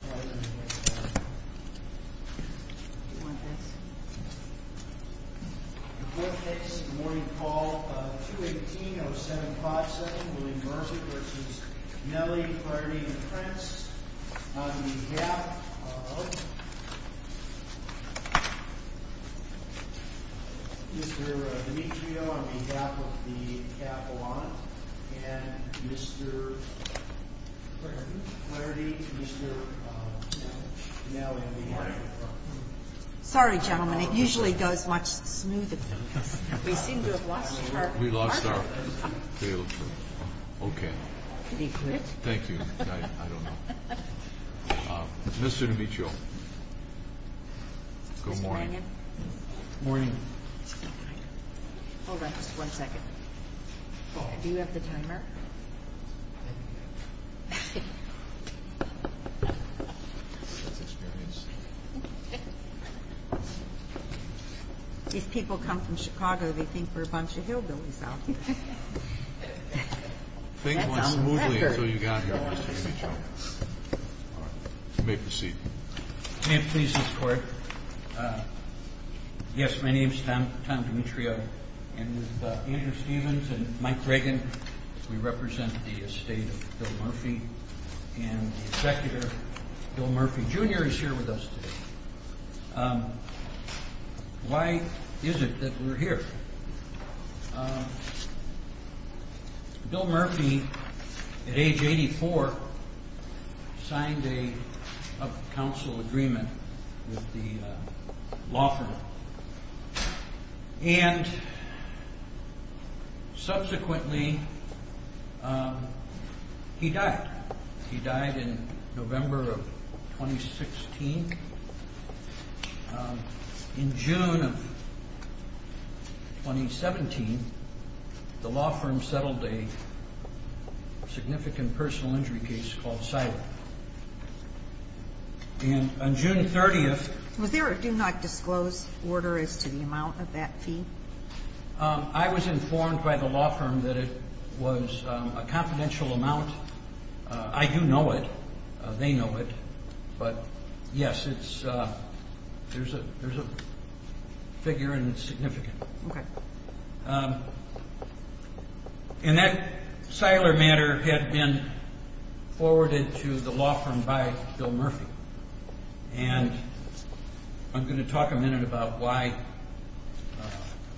The Court takes the morning call of 2-18-0757, William Garza v. Kinnaly, Flaherty, and Krentz On behalf of Mr. Dimitrio, on behalf of the Kavaland, and Mr. Flaherty, Mr. Kinnaly, we have a problem. Sorry, gentlemen, it usually goes much smoother than this. We seem to have lost our... We lost our... We failed to... Okay. Thank you. I don't know. Mr. Dimitrio, good morning. Good morning. Hold on just one second. Do you have the timer? These people come from Chicago, they think we're a bunch of hillbillies out here. Things went smoothly until you got here, Mr. Dimitrio. You may proceed. May it please this Court? Yes, my name is Tom Dimitrio, and with Andrew Stevens and Mike Reagan, we represent the estate of Bill Murphy, and the executor, Bill Murphy Jr., is here with us today. Why is it that we're here? Bill Murphy, at age 84, signed a council agreement with the law firm, and subsequently, he died. He died in November of 2016. In June of 2017, the law firm settled a significant personal injury case called Siler. And on June 30th... Was there a do-not-disclose order as to the amount of that fee? I was informed by the law firm that it was a confidential amount. I do know it. They know it. But, yes, it's... There's a figure, and it's significant. Okay. And that Siler matter had been forwarded to the law firm by Bill Murphy. And I'm going to talk a minute about why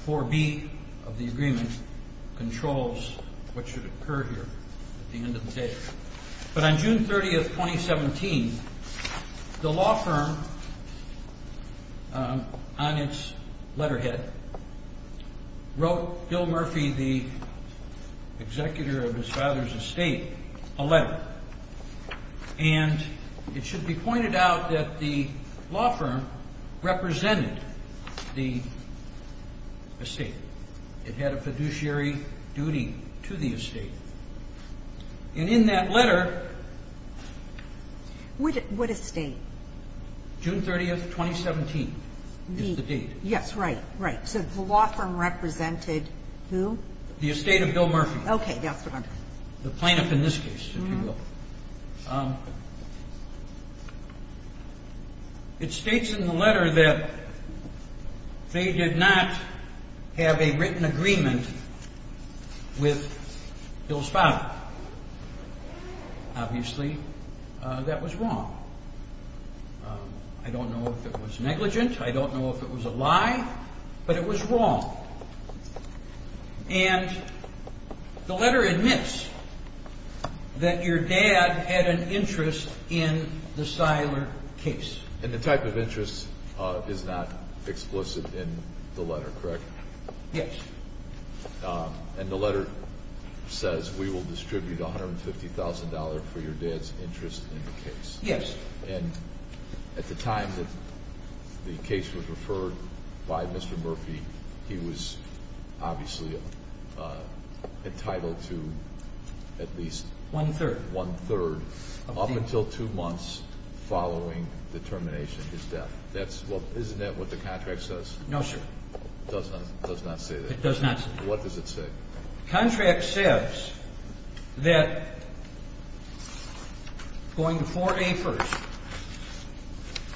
4B of the agreement controls what should occur here at the end of the day. But on June 30th, 2017, the law firm, on its letterhead, wrote Bill Murphy, the executor of his father's estate, a letter. And it should be pointed out that the law firm represented the estate. It had a fiduciary duty to the estate. And in that letter... What estate? June 30th, 2017 is the date. Yes, right, right. So the law firm represented who? The estate of Bill Murphy. Okay. The plaintiff in this case, if you will. It states in the letter that they did not have a written agreement with Bill's father. Obviously, that was wrong. I don't know if it was negligent. I don't know if it was a lie. But it was wrong. And the letter admits that your dad had an interest in the Siler case. And the type of interest is not explicit in the letter, correct? Yes. And the letter says, we will distribute $150,000 for your dad's interest in the case. Yes. And at the time that the case was referred by Mr. Murphy, he was obviously entitled to at least... One-third, up until two months following the termination of his death. Isn't that what the contract says? No, sir. It does not say that. It does not say that. What does it say? The contract says that going to 4A first,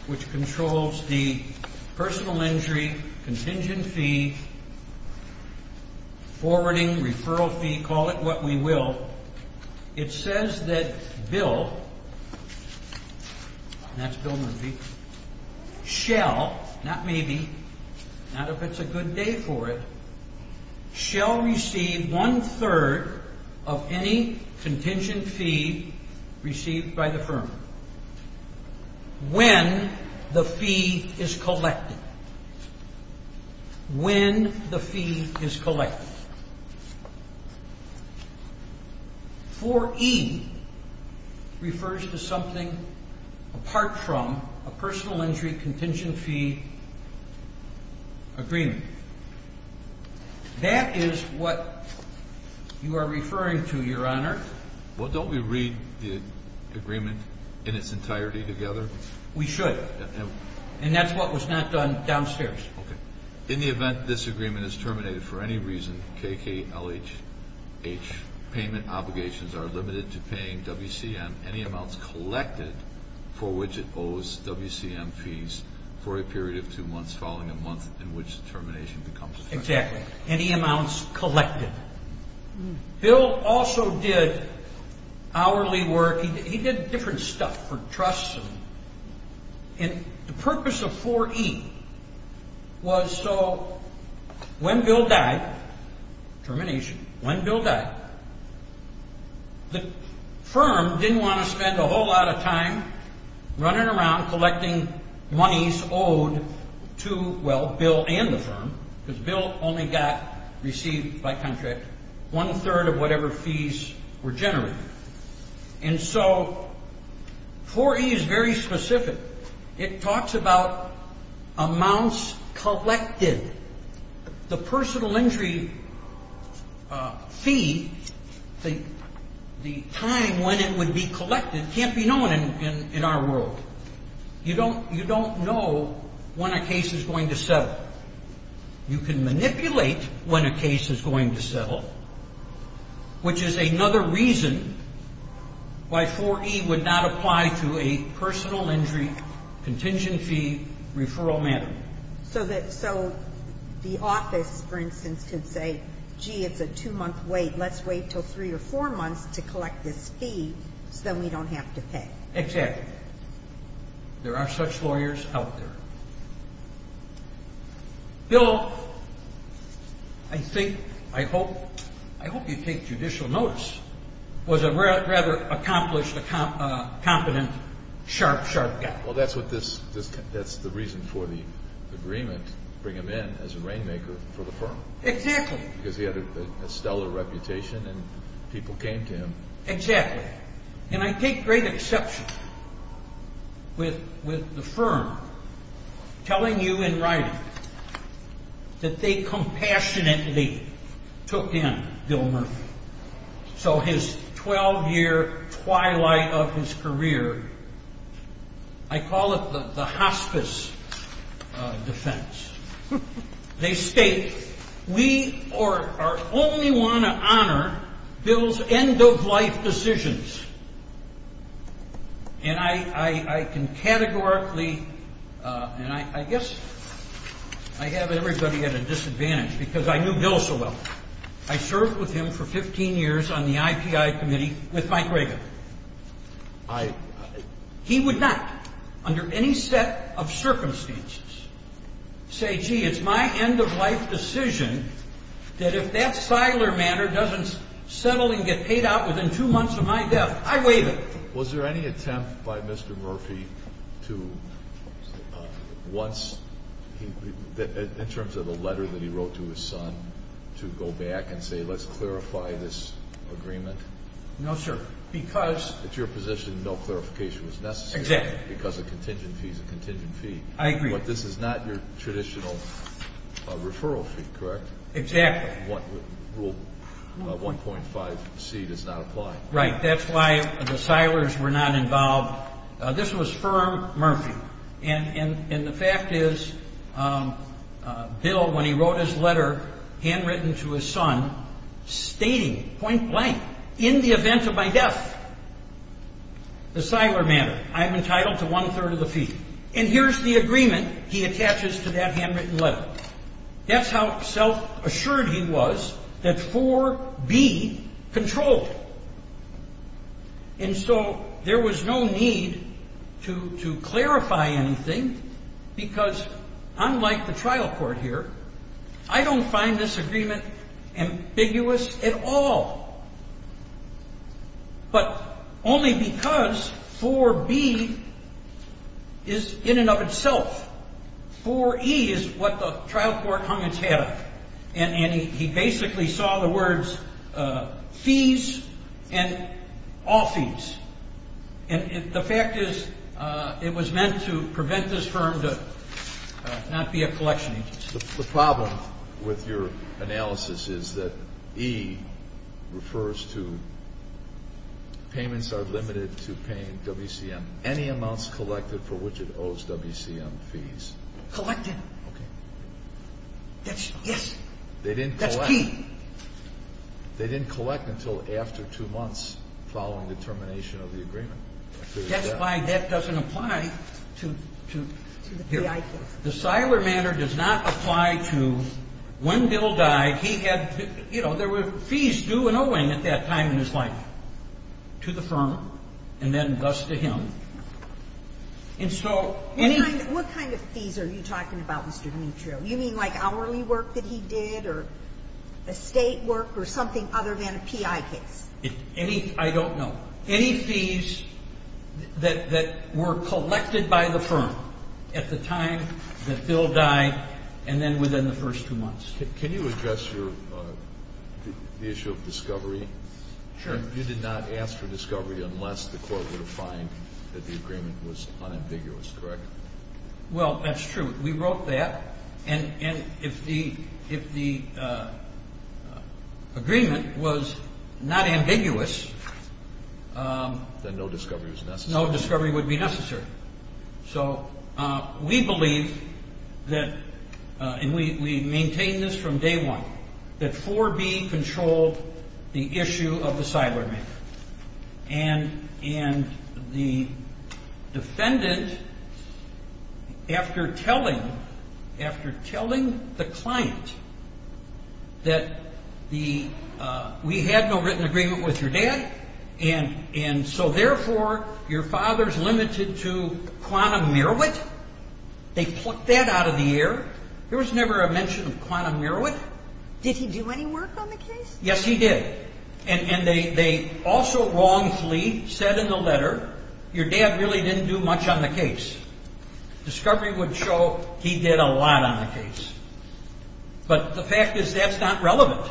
which controls the personal injury, contingent fee, forwarding, referral fee, call it what we will. It says that Bill, and that's Bill Murphy, shall, not maybe, not if it's a good day for it, shall receive one-third of any contingent fee received by the firm. When the fee is collected. When the fee is collected. 4E refers to something apart from a personal injury contingent fee agreement. That is what you are referring to, Your Honor. Well, don't we read the agreement in its entirety together? We should. And that's what was not done downstairs. Okay. In the event this agreement is terminated for any reason, KKLH payment obligations are limited to paying WCM any amounts collected for which it owes WCM fees for a period of two months following a month in which the termination becomes effective. Exactly. Any amounts collected. Bill also did hourly work. He did different stuff for trusts. And the purpose of 4E was so when Bill died, termination, when Bill died, the firm didn't want to spend a whole lot of time running around collecting monies owed to, well, Bill and the firm. Because Bill only got received by contract one-third of whatever fees were generated. And so 4E is very specific. It talks about amounts collected. The personal injury fee, the time when it would be collected can't be known in our world. You don't know when a case is going to settle. You can manipulate when a case is going to settle, which is another reason why 4E would not apply to a personal injury contingency referral matter. So the office, for instance, could say, gee, it's a two-month wait. Let's wait until three or four months to collect this fee so then we don't have to pay. Exactly. There are such lawyers out there. Bill, I think, I hope you take judicial notice, was a rather accomplished, competent, sharp, sharp guy. Well, that's the reason for the agreement to bring him in as a rainmaker for the firm. Exactly. Because he had a stellar reputation and people came to him. Exactly. And I take great exception with the firm telling you in writing that they compassionately took in Bill Murphy. So his 12-year twilight of his career, I call it the hospice defense. They state, we are only one to honor Bill's end-of-life decisions. And I can categorically, and I guess I have everybody at a disadvantage because I knew Bill so well. I served with him for 15 years on the IPI committee with Mike Reagan. He would not, under any set of circumstances, say, gee, it's my end-of-life decision that if that Siler matter doesn't settle and get paid out within two months of my death, I waive it. Was there any attempt by Mr. Murphy to once, in terms of the letter that he wrote to his son, to go back and say, let's clarify this agreement? No, sir. Because? It's your position no clarification was necessary. Exactly. Because a contingent fee is a contingent fee. I agree. But this is not your traditional referral fee, correct? Exactly. Rule 1.5C does not apply. Right. That's why the Silers were not involved. This was firm Murphy. And the fact is, Bill, when he wrote his letter, handwritten to his son, stating point blank, in the event of my death, the Siler matter, I'm entitled to one-third of the fee. And here's the agreement he attaches to that handwritten letter. That's how self-assured he was that 4B controlled it. And so there was no need to clarify anything because, unlike the trial court here, I don't find this agreement ambiguous at all. But only because 4B is in and of itself. 4E is what the trial court hung its hat on. And he basically saw the words fees and all fees. And the fact is, it was meant to prevent this firm to not be a collection agency. The problem with your analysis is that E refers to payments are limited to paying WCM any amounts collected for which it owes WCM fees. Collected. Okay. That's, yes. They didn't collect. That's key. They didn't collect until after two months following the termination of the agreement. That's why that doesn't apply to here. The Siler matter does not apply to when Bill died. He had, you know, there were fees due and owing at that time in his life to the firm and then thus to him. And so any. What kind of fees are you talking about, Mr. Demetrio? You mean like hourly work that he did or estate work or something other than a PI case? Any, I don't know. Any fees that were collected by the firm at the time that Bill died and then within the first two months. Can you address the issue of discovery? Sure. You did not ask for discovery unless the court would find that the agreement was unambiguous, correct? Well, that's true. We wrote that. And if the agreement was not ambiguous. Then no discovery was necessary. No discovery would be necessary. So we believe that, and we maintain this from day one, that 4B controlled the issue of the Siler matter. And the defendant, after telling the client that we had no written agreement with your dad. And so therefore, your father's limited to quantum merowit. They plucked that out of the air. There was never a mention of quantum merowit. Did he do any work on the case? Yes, he did. And they also wrongfully said in the letter, your dad really didn't do much on the case. Discovery would show he did a lot on the case. But the fact is that's not relevant.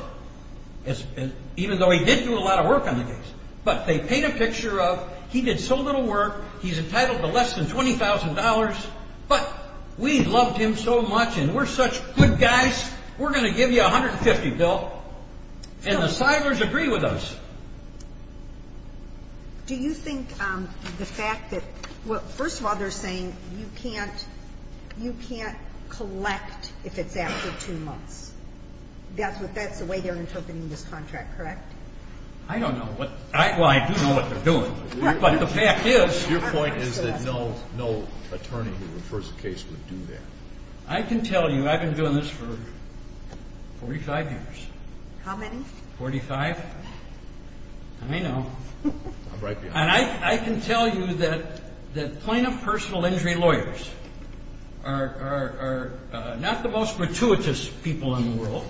Even though he did do a lot of work on the case. But they paint a picture of, he did so little work. He's entitled to less than $20,000. But we loved him so much and we're such good guys. We're going to give you $150,000, Bill. And the Silers agree with us. Do you think the fact that, well, first of all, they're saying you can't collect if it's after two months. That's the way they're interpreting this contract, correct? I don't know. Well, I do know what they're doing. But the fact is. Your point is that no attorney who refers a case would do that. I can tell you, I've been doing this for 45 years. How many? 45. I know. I'm right behind you. I can tell you that plaintiff personal injury lawyers are not the most gratuitous people in the world.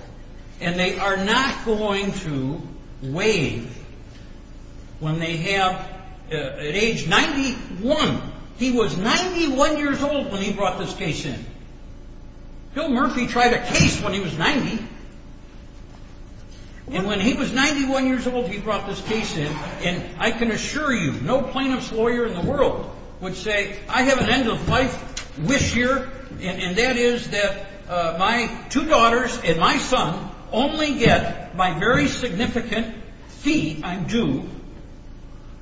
And they are not going to waive when they have, at age 91. He was 91 years old when he brought this case in. Bill Murphy tried a case when he was 90. And when he was 91 years old, he brought this case in. And I can assure you, no plaintiff's lawyer in the world would say, I have an end of life wish here. And that is that my two daughters and my son only get my very significant fee, I'm due,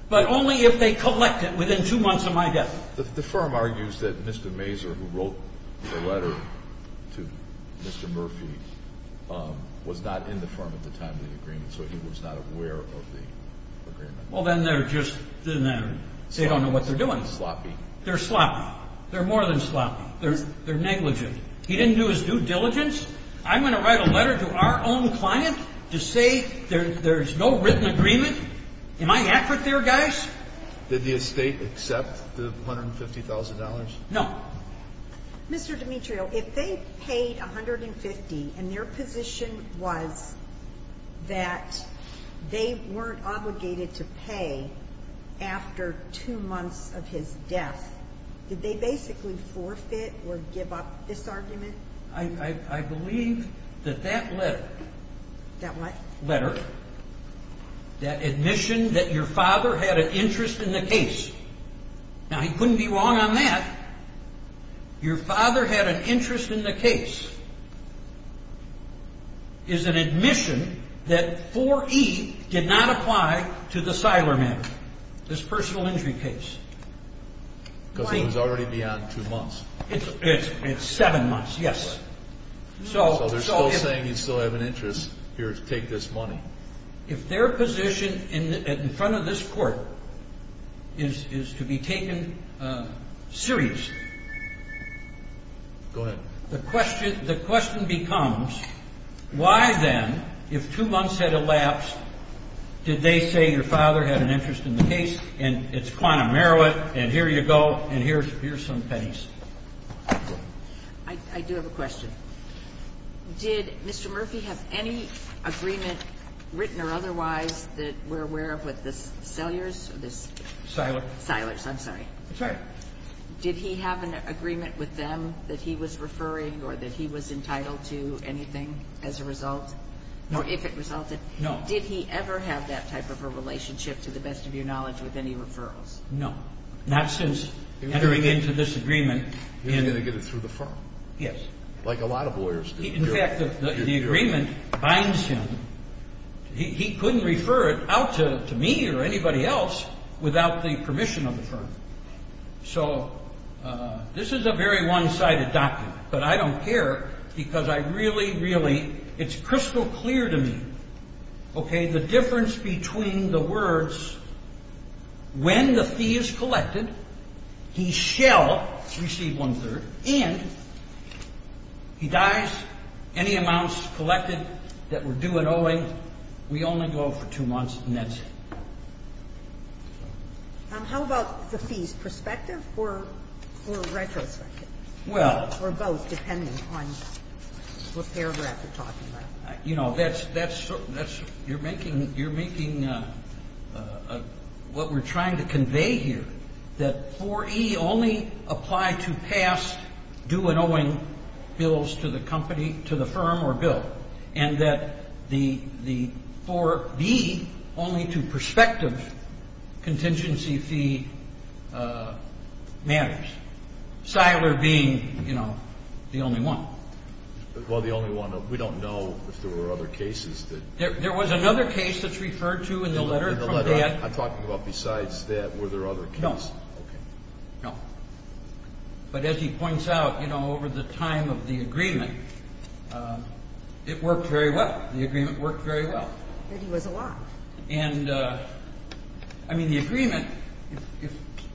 but only if they collect it within two months of my death. The firm argues that Mr. Mazur, who wrote the letter to Mr. Murphy, was not in the firm at the time of the agreement. So he was not aware of the agreement. Well, then they're just, they don't know what they're doing. Sloppy. They're sloppy. They're more than sloppy. They're negligent. He didn't do his due diligence. I'm going to write a letter to our own client to say there's no written agreement? Am I accurate there, guys? Did the estate accept the $150,000? No. Mr. Demetrio, if they paid $150,000 and their position was that they weren't obligated to pay after two months of his death, did they basically forfeit or give up this argument? I believe that that letter. That what? Letter, that admission that your father had an interest in the case. Now, he couldn't be wrong on that. Your father had an interest in the case is an admission that 4E did not apply to the Silerman, this personal injury case. Because it was already beyond two months. It's seven months, yes. So they're still saying he'd still have an interest here to take this money. If their position in front of this court is to be taken seriously, the question becomes, why then, if two months had elapsed, did they say your father had an interest in the case and it's quantum merit and here you go and here's some pennies? I do have a question. Did Mr. Murphy have any agreement, written or otherwise, that we're aware of with the Sellers? Silers. Silers, I'm sorry. That's all right. Did he have an agreement with them that he was referring or that he was entitled to anything as a result? No. Or if it resulted? No. Did he ever have that type of a relationship, to the best of your knowledge, with any referrals? No. Not since entering into this agreement. He wasn't going to get it through the firm. Yes. Like a lot of lawyers do. In fact, the agreement binds him. He couldn't refer it out to me or anybody else without the permission of the firm. So this is a very one-sided document. But I don't care because I really, really, it's crystal clear to me, okay, the difference between the words, when the fee is collected, he shall receive one-third, and he dies. Any amounts collected that were due at owing, we only go for two months and that's it. How about the fees? Perspective or retrospective? Well. Or both, depending on what paragraph you're talking about. You know, that's, you're making what we're trying to convey here, that 4E only applied to past due at owing bills to the company, to the firm or bill. And that the 4B only to prospective contingency fee matters. Siler being, you know, the only one. Well, the only one. We don't know if there were other cases that. There was another case that's referred to in the letter. I'm talking about besides that, were there other cases? No. Okay. No. But as he points out, you know, over the time of the agreement, it worked very well. The agreement worked very well. It was a lot. And I mean, the agreement,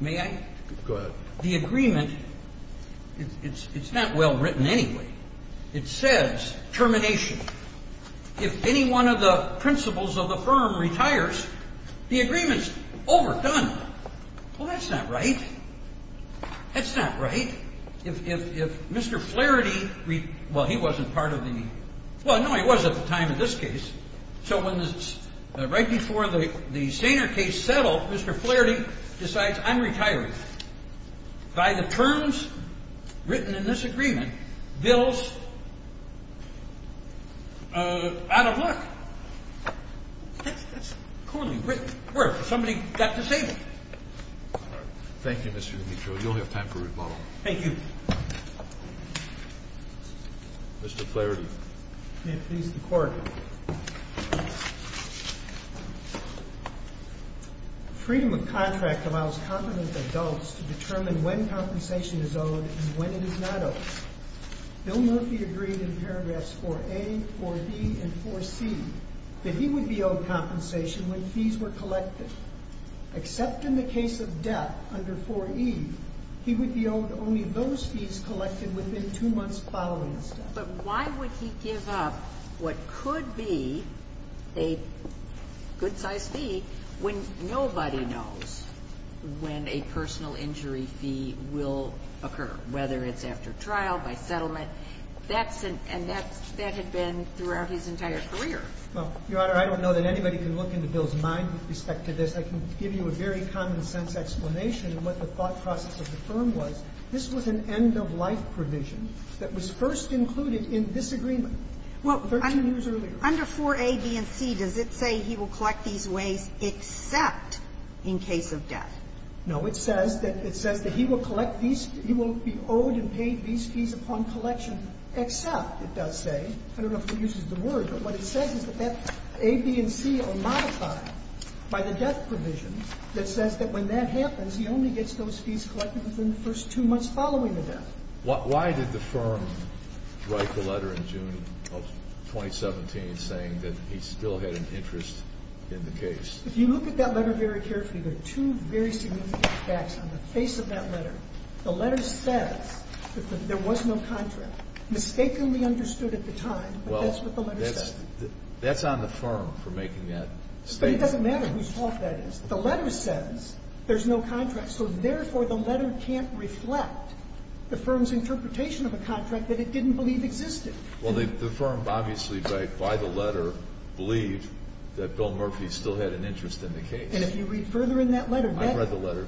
may I? Go ahead. The agreement, it's not well written anyway. It says termination. If any one of the principals of the firm retires, the agreement's overdone. Well, that's not right. That's not right. If Mr. Flaherty, well, he wasn't part of the. Well, no, he was at the time of this case. So right before the Saner case settled, Mr. Flaherty decides, I'm retiring. By the terms written in this agreement, bills out of luck. That's poorly written. Where? Somebody got disabled. All right. Thank you, Mr. Demetrio. You'll have time for rebuttal. Thank you. Mr. Flaherty. May it please the Court. Freedom of contract allows competent adults to determine when compensation is owed and when it is not owed. Bill Murphy agreed in paragraphs 4A, 4B, and 4C that he would be owed compensation when fees were collected, except in the case of debt under 4E, he would be owed only those fees collected within two months following his death. But why would he give up what could be a good-sized fee when nobody knows when a personal injury fee will occur, whether it's after trial, by settlement? And that had been throughout his entire career. Well, Your Honor, I don't know that anybody can look into Bill's mind with respect to this. I can give you a very common-sense explanation of what the thought process of the firm was. This was an end-of-life provision that was first included in this agreement 13 years earlier. Well, under 4A, B, and C, does it say he will collect these ways except in case of debt? No. It says that he will collect these fees. He will be owed and paid these fees upon collection, except, it does say. I don't know if it uses the word. But what it says is that that A, B, and C are modified by the death provision that says that when that happens, he only gets those fees collected within the first two months following the death. Why did the firm write the letter in June of 2017 saying that he still had an interest in the case? If you look at that letter very carefully, there are two very significant facts on the face of that letter. The letter says that there was no contract, mistakenly understood at the time, but that's what the letter says. Well, that's on the firm for making that statement. But it doesn't matter whose fault that is. The letter says there's no contract. So, therefore, the letter can't reflect the firm's interpretation of a contract that it didn't believe existed. Well, the firm, obviously, by the letter, believed that Bill Murphy still had an interest And if you read further in that letter, that interest. I haven't read the letter.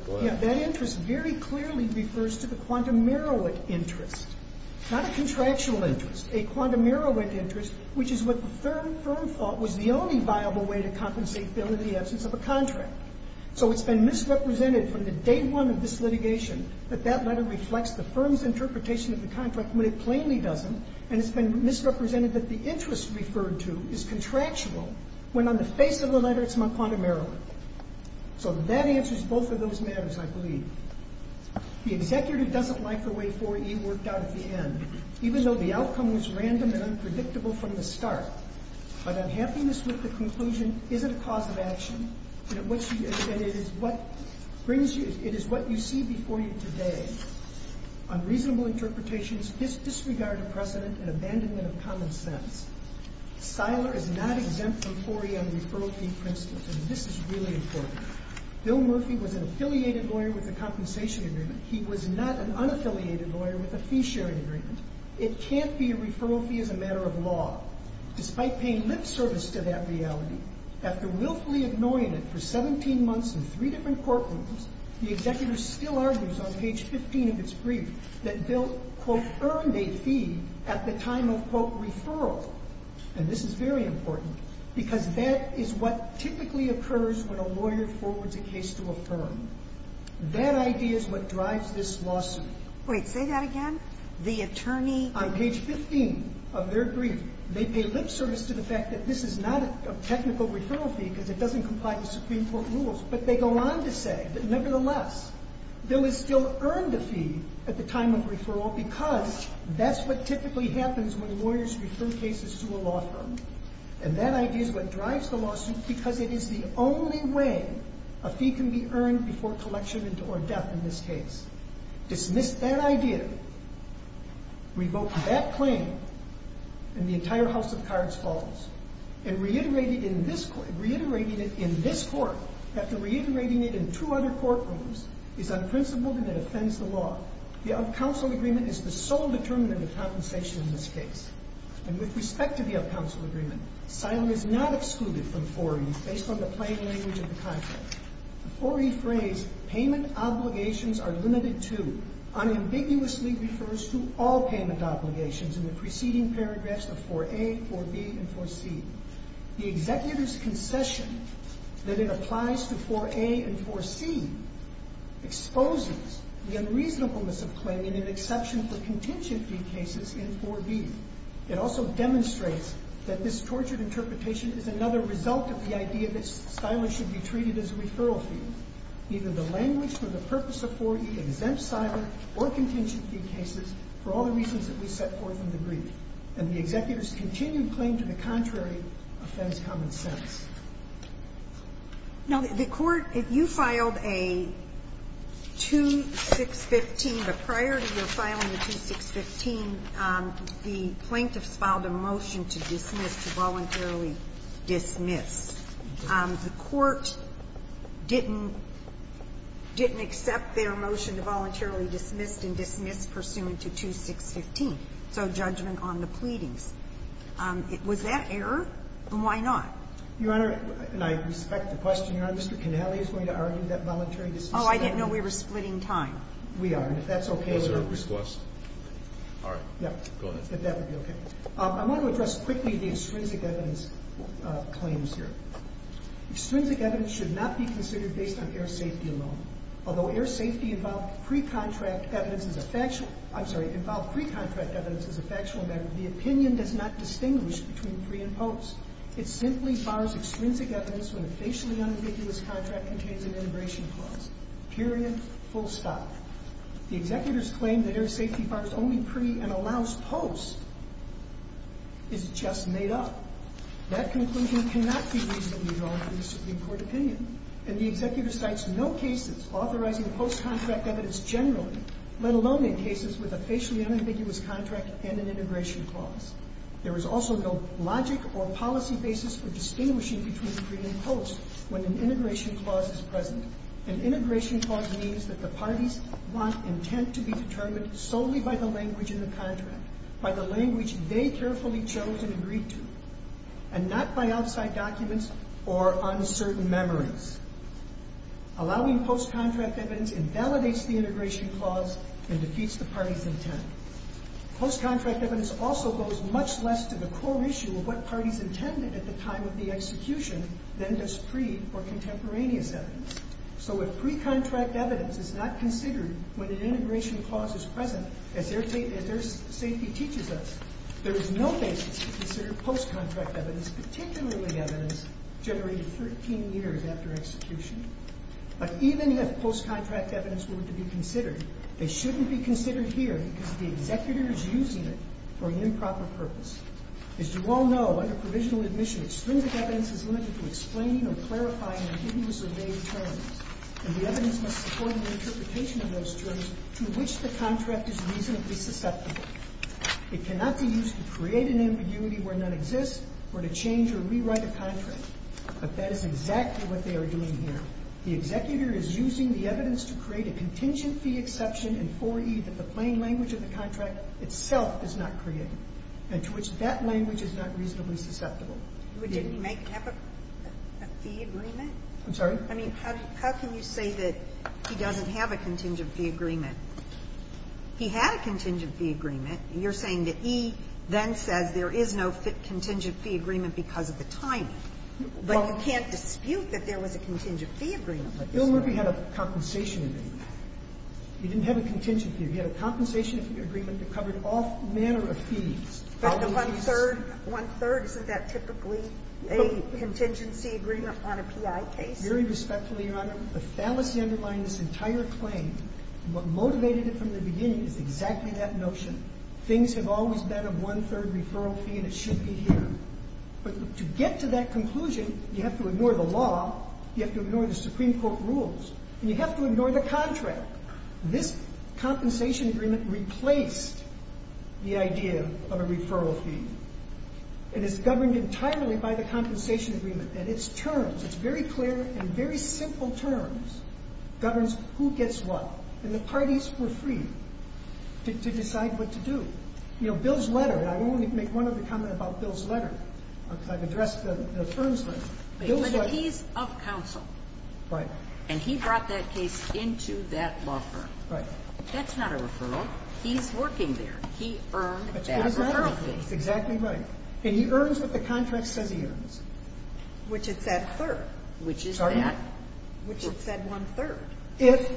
It refers to the quantumeruit interest, not a contractual interest, a quantumeruit interest, which is what the firm thought was the only viable way to compensate Bill in the absence of a contract. So it's been misrepresented from the day one of this litigation that that letter reflects the firm's interpretation of the contract when it plainly doesn't, and it's been misrepresented that the interest referred to is contractual when on the face of the letter it's not quantumeruit. So that answers both of those matters, I believe. The executive doesn't like the way 4E worked out at the end, even though the outcome was random and unpredictable from the start. But unhappiness with the conclusion isn't a cause of action, and it is what you see before you today. Unreasonable interpretations, disregard of precedent, and abandonment of common sense. Siler is not exempt from 4E on referral fee principles, and this is really important. Bill Murphy was an affiliated lawyer with a compensation agreement. He was not an unaffiliated lawyer with a fee-sharing agreement. It can't be a referral fee as a matter of law. Despite paying lip service to that reality, after willfully ignoring it for 17 months in three different courtrooms, the executor still argues on page 15 of its brief that Bill, quote, earned a fee at the time of, quote, referral. And this is very important, because that is what typically occurs when a lawyer forwards a case to a firm. That idea is what drives this lawsuit. Wait. Say that again? The attorney? On page 15 of their brief, they pay lip service to the fact that this is not a technical referral fee because it doesn't comply with Supreme Court rules. But they go on to say that, nevertheless, Bill has still earned a fee at the time of referral because that's what typically happens when lawyers refer cases to a law firm. And that idea is what drives the lawsuit because it is the only way a fee can be earned before collection or death in this case. Dismiss that idea, revoke that claim, and the entire House of Cards falls. And reiterating it in this court, after reiterating it in two other courtrooms, is unprincipled and it offends the law. The up-counsel agreement is the sole determinant of compensation in this case. And with respect to the up-counsel agreement, asylum is not excluded from IV-E based on the plain language of the contract. The IV-E phrase, payment obligations are limited to, unambiguously refers to all payment obligations in the preceding paragraphs of IV-A, IV-B, and IV-C. The executor's concession that it applies to IV-A and IV-C exposes the unreasonableness of claiming an exception for contingent fee cases in IV-B. It also demonstrates that this tortured interpretation is another result of the idea that asylum should be treated as a referral fee. Either the language for the purpose of IV-E exempts asylum or contingent fee cases for all the reasons that we set forth in the brief. And the executor's continued claim to the contrary offends common sense. Now, the court, if you filed a 2615, but prior to your filing the 2615, the plaintiffs filed a motion to dismiss, to voluntarily dismiss. The court didn't accept their motion to voluntarily dismiss and dismiss pursuant to 2615. So judgment on the pleadings. Was that error? Why not? Your Honor, and I respect the question, Your Honor, Mr. Cannelli is going to argue that voluntary dismissal. Oh, I didn't know we were splitting time. We aren't. That's okay. That's our request. All right. Go ahead. I want to address quickly the extrinsic evidence claims here. Extrinsic evidence should not be considered based on air safety alone. Although air safety involved pre-contract evidence as a factual, I'm sorry, involved pre-contract evidence as a factual matter, the opinion does not distinguish between pre and post. It simply bars extrinsic evidence when a facially unambiguous contract contains an integration clause. Period. Full stop. The executor's claim that air safety bars only pre and allows post is just made up. That conclusion cannot be reasonably drawn from the Supreme Court opinion. And the executor cites no cases authorizing post-contract evidence generally, let alone in cases with a facially unambiguous contract and an integration clause. There is also no logic or policy basis for distinguishing between pre and post when an integration clause is present. An integration clause means that the parties want intent to be determined solely by the language in the contract, by the language they carefully chose and agreed to, and not by outside documents or uncertain memories. Allowing post-contract evidence invalidates the integration clause and defeats the parties' intent. Post-contract evidence also goes much less to the core issue of what parties intended at the time of the execution than does pre or contemporaneous evidence. So if pre-contract evidence is not considered when an integration clause is present, as air safety teaches us, there is no basis to consider post-contract evidence, particularly evidence generated 13 years after execution. But even if post-contract evidence were to be considered, they shouldn't be considered here because the executor is using it for an improper purpose. As you all know, under provisional admission, extrinsic evidence is limited to explaining or clarifying ambiguous or vague terms. And the evidence must support an interpretation of those terms to which the contract is reasonably susceptible. It cannot be used to create an ambiguity where none exists or to change or rewrite a contract. But that is exactly what they are doing here. The executor is using the evidence to create a contingent fee exception in 4E that the plain language of the contract itself does not create and to which that language is not reasonably susceptible. But didn't he make a fee agreement? I'm sorry? I mean, how can you say that he doesn't have a contingent fee agreement? He had a contingent fee agreement. You're saying that he then says there is no contingent fee agreement because of the timing. But you can't dispute that there was a contingent fee agreement. Bill Murphy had a compensation agreement. He didn't have a contingent fee. He had a compensation agreement that covered all manner of fees. But the one-third, one-third, isn't that typically a contingency agreement on a PI case? Very respectfully, Your Honor, the fallacy underlying this entire claim, what most motivated it from the beginning is exactly that notion. Things have always been a one-third referral fee and it should be here. But to get to that conclusion, you have to ignore the law, you have to ignore the Supreme Court rules, and you have to ignore the contract. This compensation agreement replaced the idea of a referral fee. It is governed entirely by the compensation agreement and its terms. It's very clear and very simple terms governs who gets what. And the parties were free to decide what to do. You know, Bill's letter, and I want to make one other comment about Bill's letter because I've addressed the firm's letter. Bill's letter. But he's of counsel. Right. And he brought that case into that law firm. Right. That's not a referral. He's working there. He earned that referral fee. Exactly right. And he earns what the contract says he earns. Which is that third. Sorry? Which is that one-third. If,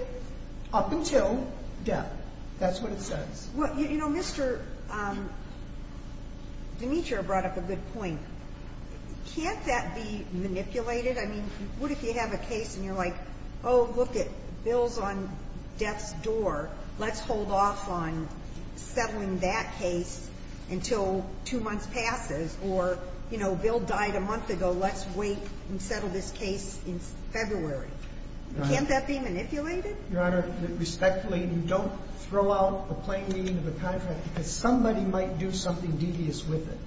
up until death. That's what it says. Well, you know, Mr. Dimitra brought up a good point. Can't that be manipulated? I mean, what if you have a case and you're like, oh, look, Bill's on death's door, let's hold off on settling that case until two months passes, or, you know, Bill died a month ago, let's wait and settle this case in February. Right. Can't that be manipulated? Your Honor, respectfully, you don't throw out a plain meaning of the contract because somebody might do something devious with it.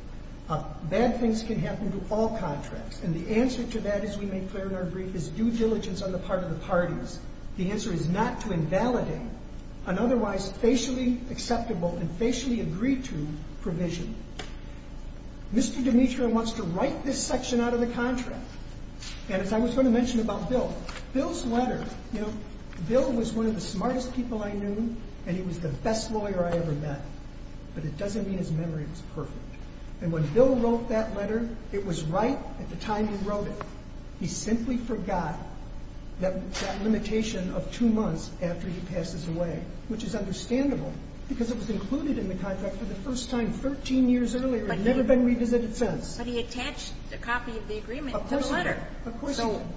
Bad things can happen to all contracts. And the answer to that, as we make clear in our brief, is due diligence on the part of the parties. The answer is not to invalidate an otherwise facially acceptable and facially agreed to provision. Mr. Dimitra wants to write this section out of the contract. And as I was going to mention about Bill, Bill's letter, you know, Bill was one of the smartest people I knew and he was the best lawyer I ever met. But it doesn't mean his memory was perfect. And when Bill wrote that letter, it was right at the time he wrote it. He simply forgot that limitation of two months after he passes away, which is understandable because it was included in the contract for the first time 13 years earlier and never been revisited since. But he attached a copy of the agreement to the letter. Of course he did. Of course he did. So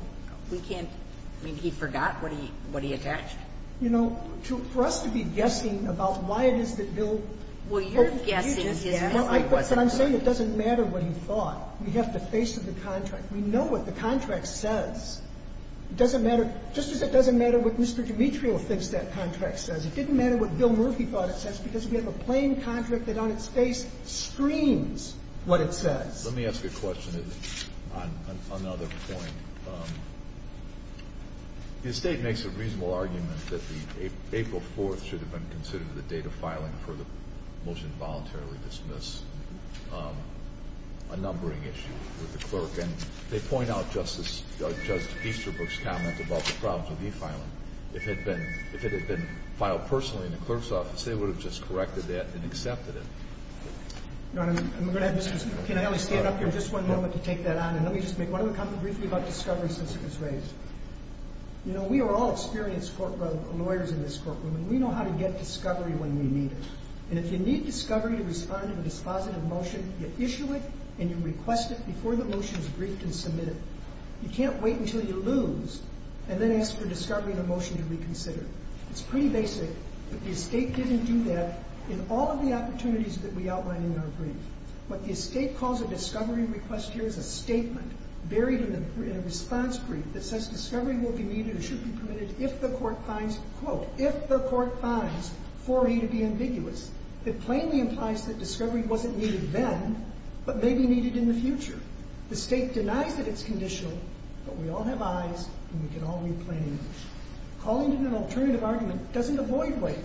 we can't – I mean, he forgot what he attached. You know, for us to be guessing about why it is that Bill – Well, you're guessing his memory wasn't perfect. But I'm saying it doesn't matter what he thought. We have to face the contract. We know what the contract says. It doesn't matter – just as it doesn't matter what Mr. Dimitra thinks that contract says, it didn't matter what Bill Murphy thought it says because we have a plain contract that on its face screams what it says. Let me ask a question on another point. The State makes a reasonable argument that the April 4th should have been considered the date of filing for the motion to voluntarily dismiss a numbering issue with the clerk. And they point out Justice Easterbrook's comment about the problems with e-filing. If it had been filed personally in the clerk's office, they would have just corrected that and accepted it. You know what I mean? Can I stand up here just one moment to take that on? And let me just make one other comment briefly about discovery since it was raised. You know, we are all experienced lawyers in this courtroom, and we know how to get discovery when we need it. And if you need discovery to respond to a dispositive motion, you issue it and you request it before the motion is briefed and submitted. You can't wait until you lose and then ask for discovery of the motion to reconsider. It's pretty basic. But the State didn't do that in all of the opportunities that we outline in our brief. What the State calls a discovery request here is a statement buried in a response brief that says discovery will be needed or should be permitted if the court finds, quote, if the court finds 4E to be ambiguous. It plainly implies that discovery wasn't needed then but may be needed in the future. The State denies that it's conditional, but we all have eyes and we can all read plainly. Calling it an alternative argument doesn't avoid waiver.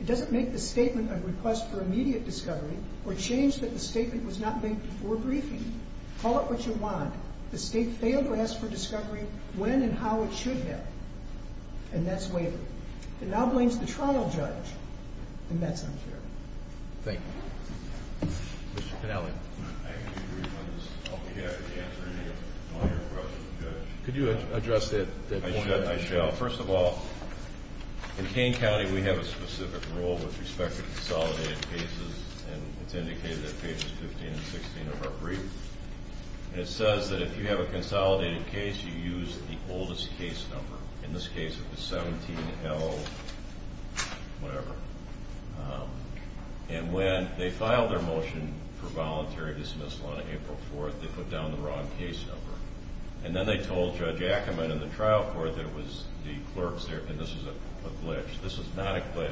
It doesn't make the statement a request for immediate discovery or change that the statement was not made before briefing. Call it what you want. The State failed to ask for discovery when and how it should have. And that's waiver. It now blames the trial judge, and that's unfair. Thank you. Mr. Pinelli. I can agree with this. I'll be happy to answer any other questions, Judge. Could you address that point? I shall. First of all, in Kane County we have a specific rule with respect to consolidated cases, and it's indicated at pages 15 and 16 of our brief. And it says that if you have a consolidated case, you use the oldest case number, in this case it was 17L whatever. And when they filed their motion for voluntary dismissal on April 4th, they put down the wrong case number. And then they told Judge Ackerman and the trial court that it was the clerk's error, and this is a glitch. This is not a glitch.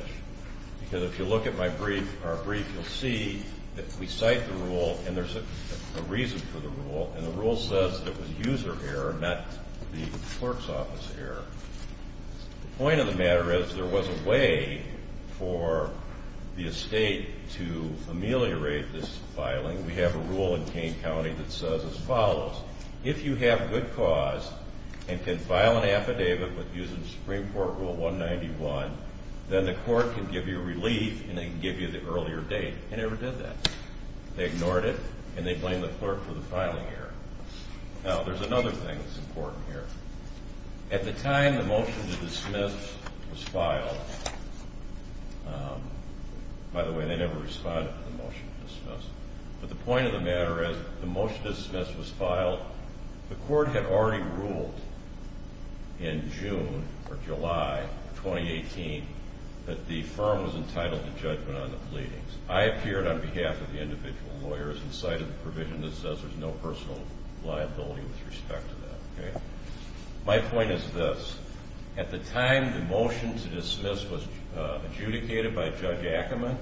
Because if you look at my brief, our brief, you'll see that we cite the rule, and there's a reason for the rule. And the rule says that it was user error, not the clerk's office error. The point of the matter is there was a way for the estate to ameliorate this filing. We have a rule in Kane County that says as follows. If you have good cause and can file an affidavit using Supreme Court Rule 191, then the court can give you relief and they can give you the earlier date. They never did that. They ignored it, and they blamed the clerk for the filing error. Now, there's another thing that's important here. At the time the motion to dismiss was filed, by the way, they never responded to the motion to dismiss. But the point of the matter is the motion to dismiss was filed. The court had already ruled in June or July of 2018 that the firm was entitled to judgment on the pleadings. I appeared on behalf of the individual lawyers and cited the provision that says there's no personal liability with respect to that. My point is this. At the time the motion to dismiss was adjudicated by Judge Ackerman,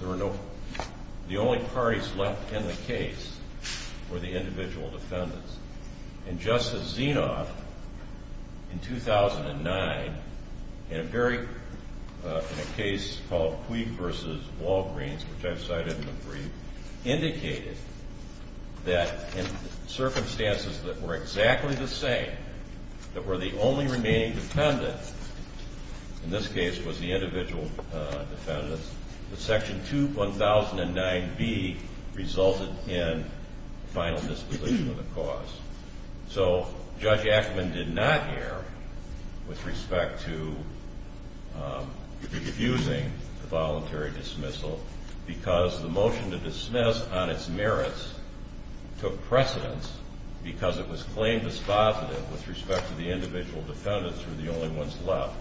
the only parties left in the case were the individual defendants. And Justice Zinov in 2009, in a case called Cui v. Walgreens, which I've cited in the brief, indicated that in circumstances that were exactly the same, that were the only remaining defendants, in this case was the individual defendants, that Section 2009B resulted in final disposition of the cause. So Judge Ackerman did not err with respect to refusing the voluntary dismissal because the motion to dismiss on its merits took precedence because it was claimed as positive with respect to the individual defendants who were the only ones left.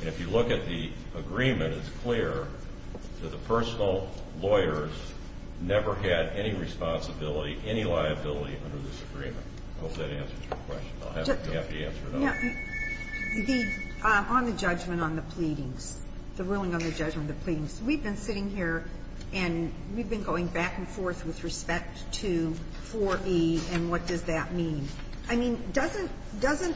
And if you look at the agreement, it's clear that the personal lawyers never had any responsibility, any liability under this agreement. I hope that answers your question. I'll be happy to answer another one. On the judgment on the pleadings, the ruling on the judgment on the pleadings, we've been sitting here and we've been going back and forth with respect to 4B and what does that mean. I mean, doesn't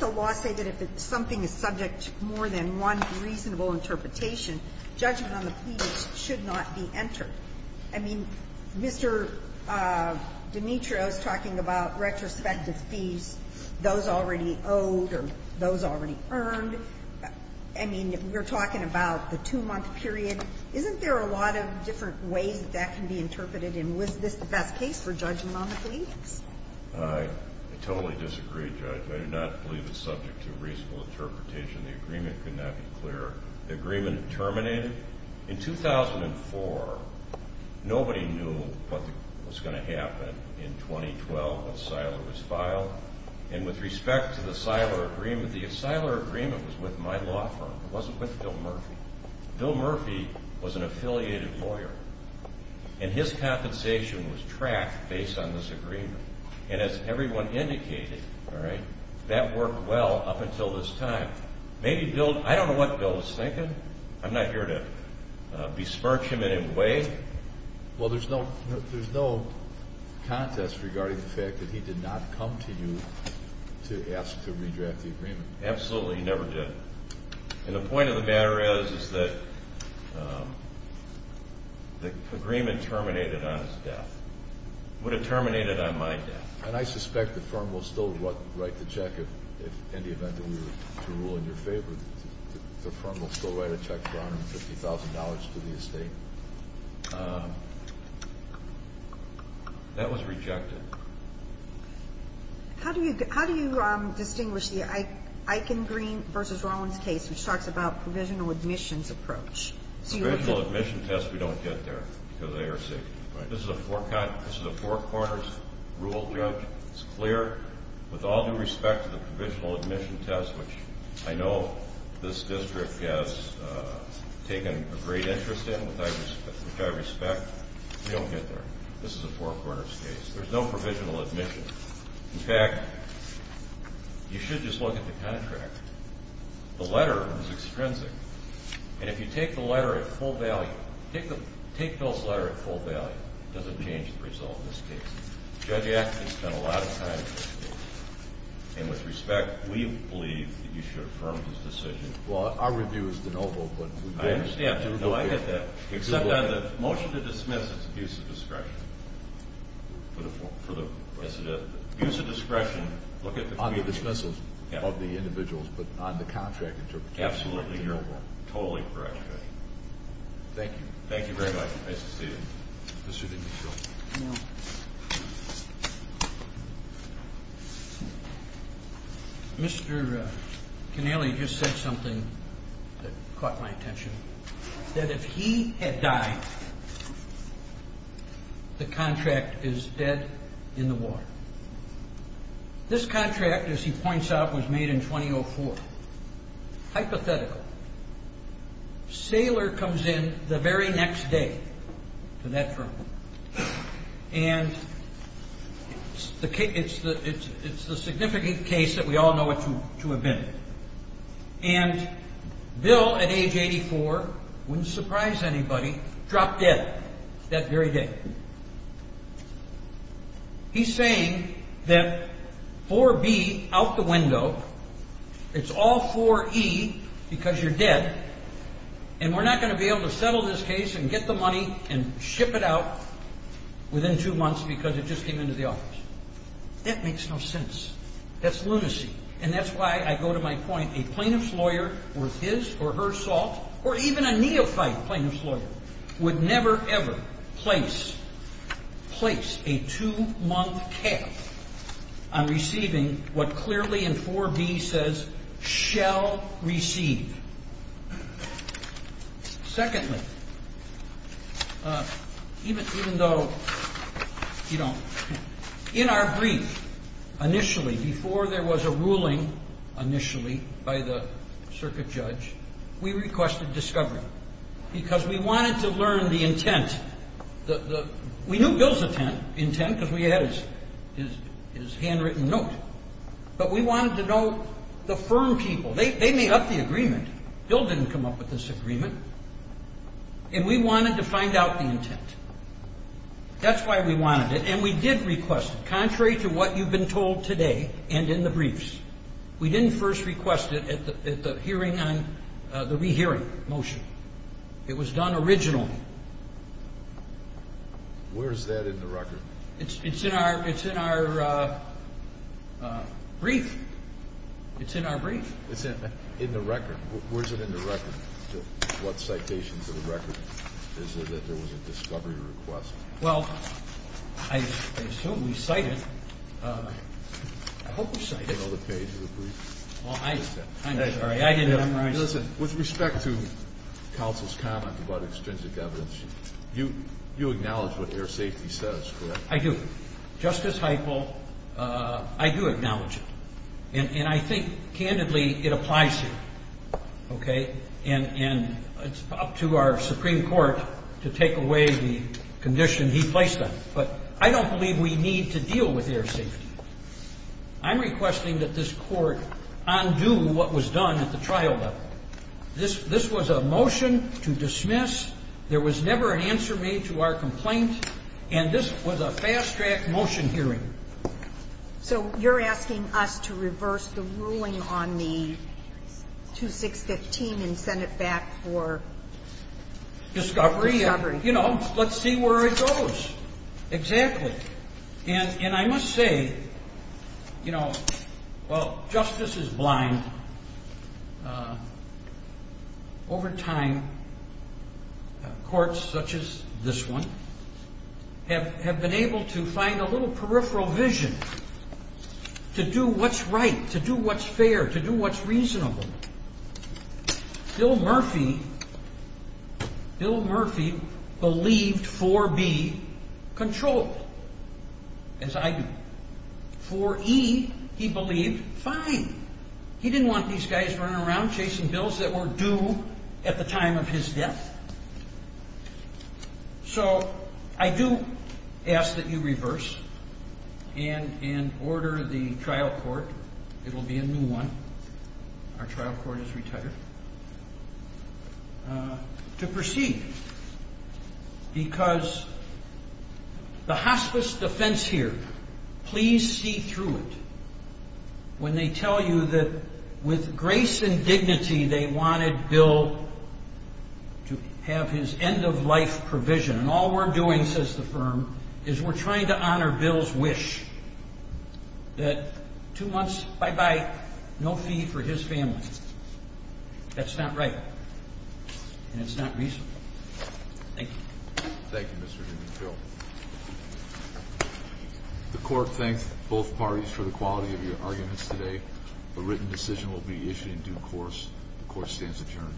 the law say that if something is subject to more than one reasonable interpretation, judgment on the pleadings should not be entered? I mean, Mr. Dimitro is talking about retrospective fees, those already owed or those already earned. I mean, we're talking about the two-month period. Isn't there a lot of different ways that that can be interpreted? And was this the best case for judgment on the pleadings? I totally disagree, Judge. I do not believe it's subject to a reasonable interpretation. The agreement could not be clearer. The agreement terminated in 2004. Nobody knew what was going to happen in 2012 when Siler was filed. And with respect to the Siler agreement, the Siler agreement was with my law firm. It wasn't with Bill Murphy. Bill Murphy was an affiliated lawyer, and his compensation was tracked based on this agreement. And as everyone indicated, that worked well up until this time. I don't know what Bill is thinking. I'm not here to besmirch him in any way. Well, there's no contest regarding the fact that he did not come to you to ask to redraft the agreement. Absolutely, he never did. And the point of the matter is that the agreement terminated on his death. It would have terminated on my death. And I suspect the firm will still write the check in the event that we were to rule in your favor. The firm will still write a check for $150,000 to the estate. That was rejected. How do you distinguish the Eichengreen v. Rollins case, which talks about provisional admissions approach? Provisional admissions test, we don't get there because of air safety. This is a four-quarters rule, Judge. It's clear. With all due respect to the provisional admissions test, which I know this district has taken a great interest in, which I respect, we don't get there. This is a four-quarters case. There's no provisional admissions. In fact, you should just look at the contract. The letter is extrinsic. And if you take the letter at full value, take Bill's letter at full value, it doesn't change the result in this case. Judge Axten has spent a lot of time in this case. And with respect, we believe that you should affirm his decision. Well, our review is de novo, but we don't. I understand. No, I get that. Except on the motion to dismiss, it's abuse of discretion. Abuse of discretion, look at the community. On the dismissals of the individuals, but on the contract interpretation. Absolutely. You're totally correct, Judge. Thank you. Thank you very much. Nice to see you. Mr. DiNiccio. Mr. Connelly just said something that caught my attention. That if he had died, the contract is dead in the water. This contract, as he points out, was made in 2004. Hypothetical. Saylor comes in the very next day to that firm. And it's the significant case that we all know what to have been. And Bill, at age 84, wouldn't surprise anybody, dropped dead that very day. He's saying that 4B, out the window, it's all 4E because you're dead, and we're not going to be able to settle this case and get the money and ship it out within two months because it just came into the office. That makes no sense. That's lunacy. And that's why I go to my point. A plaintiff's lawyer, or his or her salt, or even a neophyte plaintiff's lawyer, would never, ever place a two-month cap on receiving what clearly in 4B says shall receive. Secondly, even though, you know, in our brief, initially, before there was a ruling initially by the circuit judge, we requested discovery because we wanted to learn the intent. We knew Bill's intent because we had his handwritten note, but we wanted to know the firm people. They made up the agreement. Bill didn't come up with this agreement, and we wanted to find out the intent. That's why we wanted it, and we did request it, contrary to what you've been told today and in the briefs. We didn't first request it at the hearing on the rehearing motion. It was done originally. Where is that in the record? It's in our brief. It's in our brief. It's in the record. Where is it in the record? What citation is in the record? Is it that there was a discovery request? Well, I assume we cited it. I hope we cited it. Do you know the page of the brief? I'm sorry. I didn't memorize it. Listen, with respect to counsel's comment about extrinsic evidence, you acknowledge what air safety says, correct? I do. Justice Heupel, I do acknowledge it. And I think, candidly, it applies here, okay? And it's up to our Supreme Court to take away the condition he placed on it. But I don't believe we need to deal with air safety. I'm requesting that this Court undo what was done at the trial level. This was a motion to dismiss. There was never an answer made to our complaint, and this was a fast-track motion hearing. So you're asking us to reverse the ruling on the 2615 and send it back for discovery? You know, let's see where it goes. Exactly. And I must say, you know, while justice is blind, over time courts such as this one have been able to find a little peripheral vision to do what's right, to do what's fair, to do what's reasonable. Bill Murphy believed 4B controlled, as I do. 4E, he believed, fine. He didn't want these guys running around chasing bills that were due at the time of his death. So I do ask that you reverse and order the trial court, it will be a new one, our trial court is retired, to proceed because the hospice defense here, please see through it when they tell you that with grace and dignity they wanted Bill to have his end-of-life provision. And all we're doing, says the firm, is we're trying to honor Bill's wish that two months, bye-bye, no fee for his family. That's not right, and it's not reasonable. Thank you. Thank you, Mr. Newman. Bill. The court thanks both parties for the quality of your arguments today. A written decision will be issued in due course. The court stands adjourned.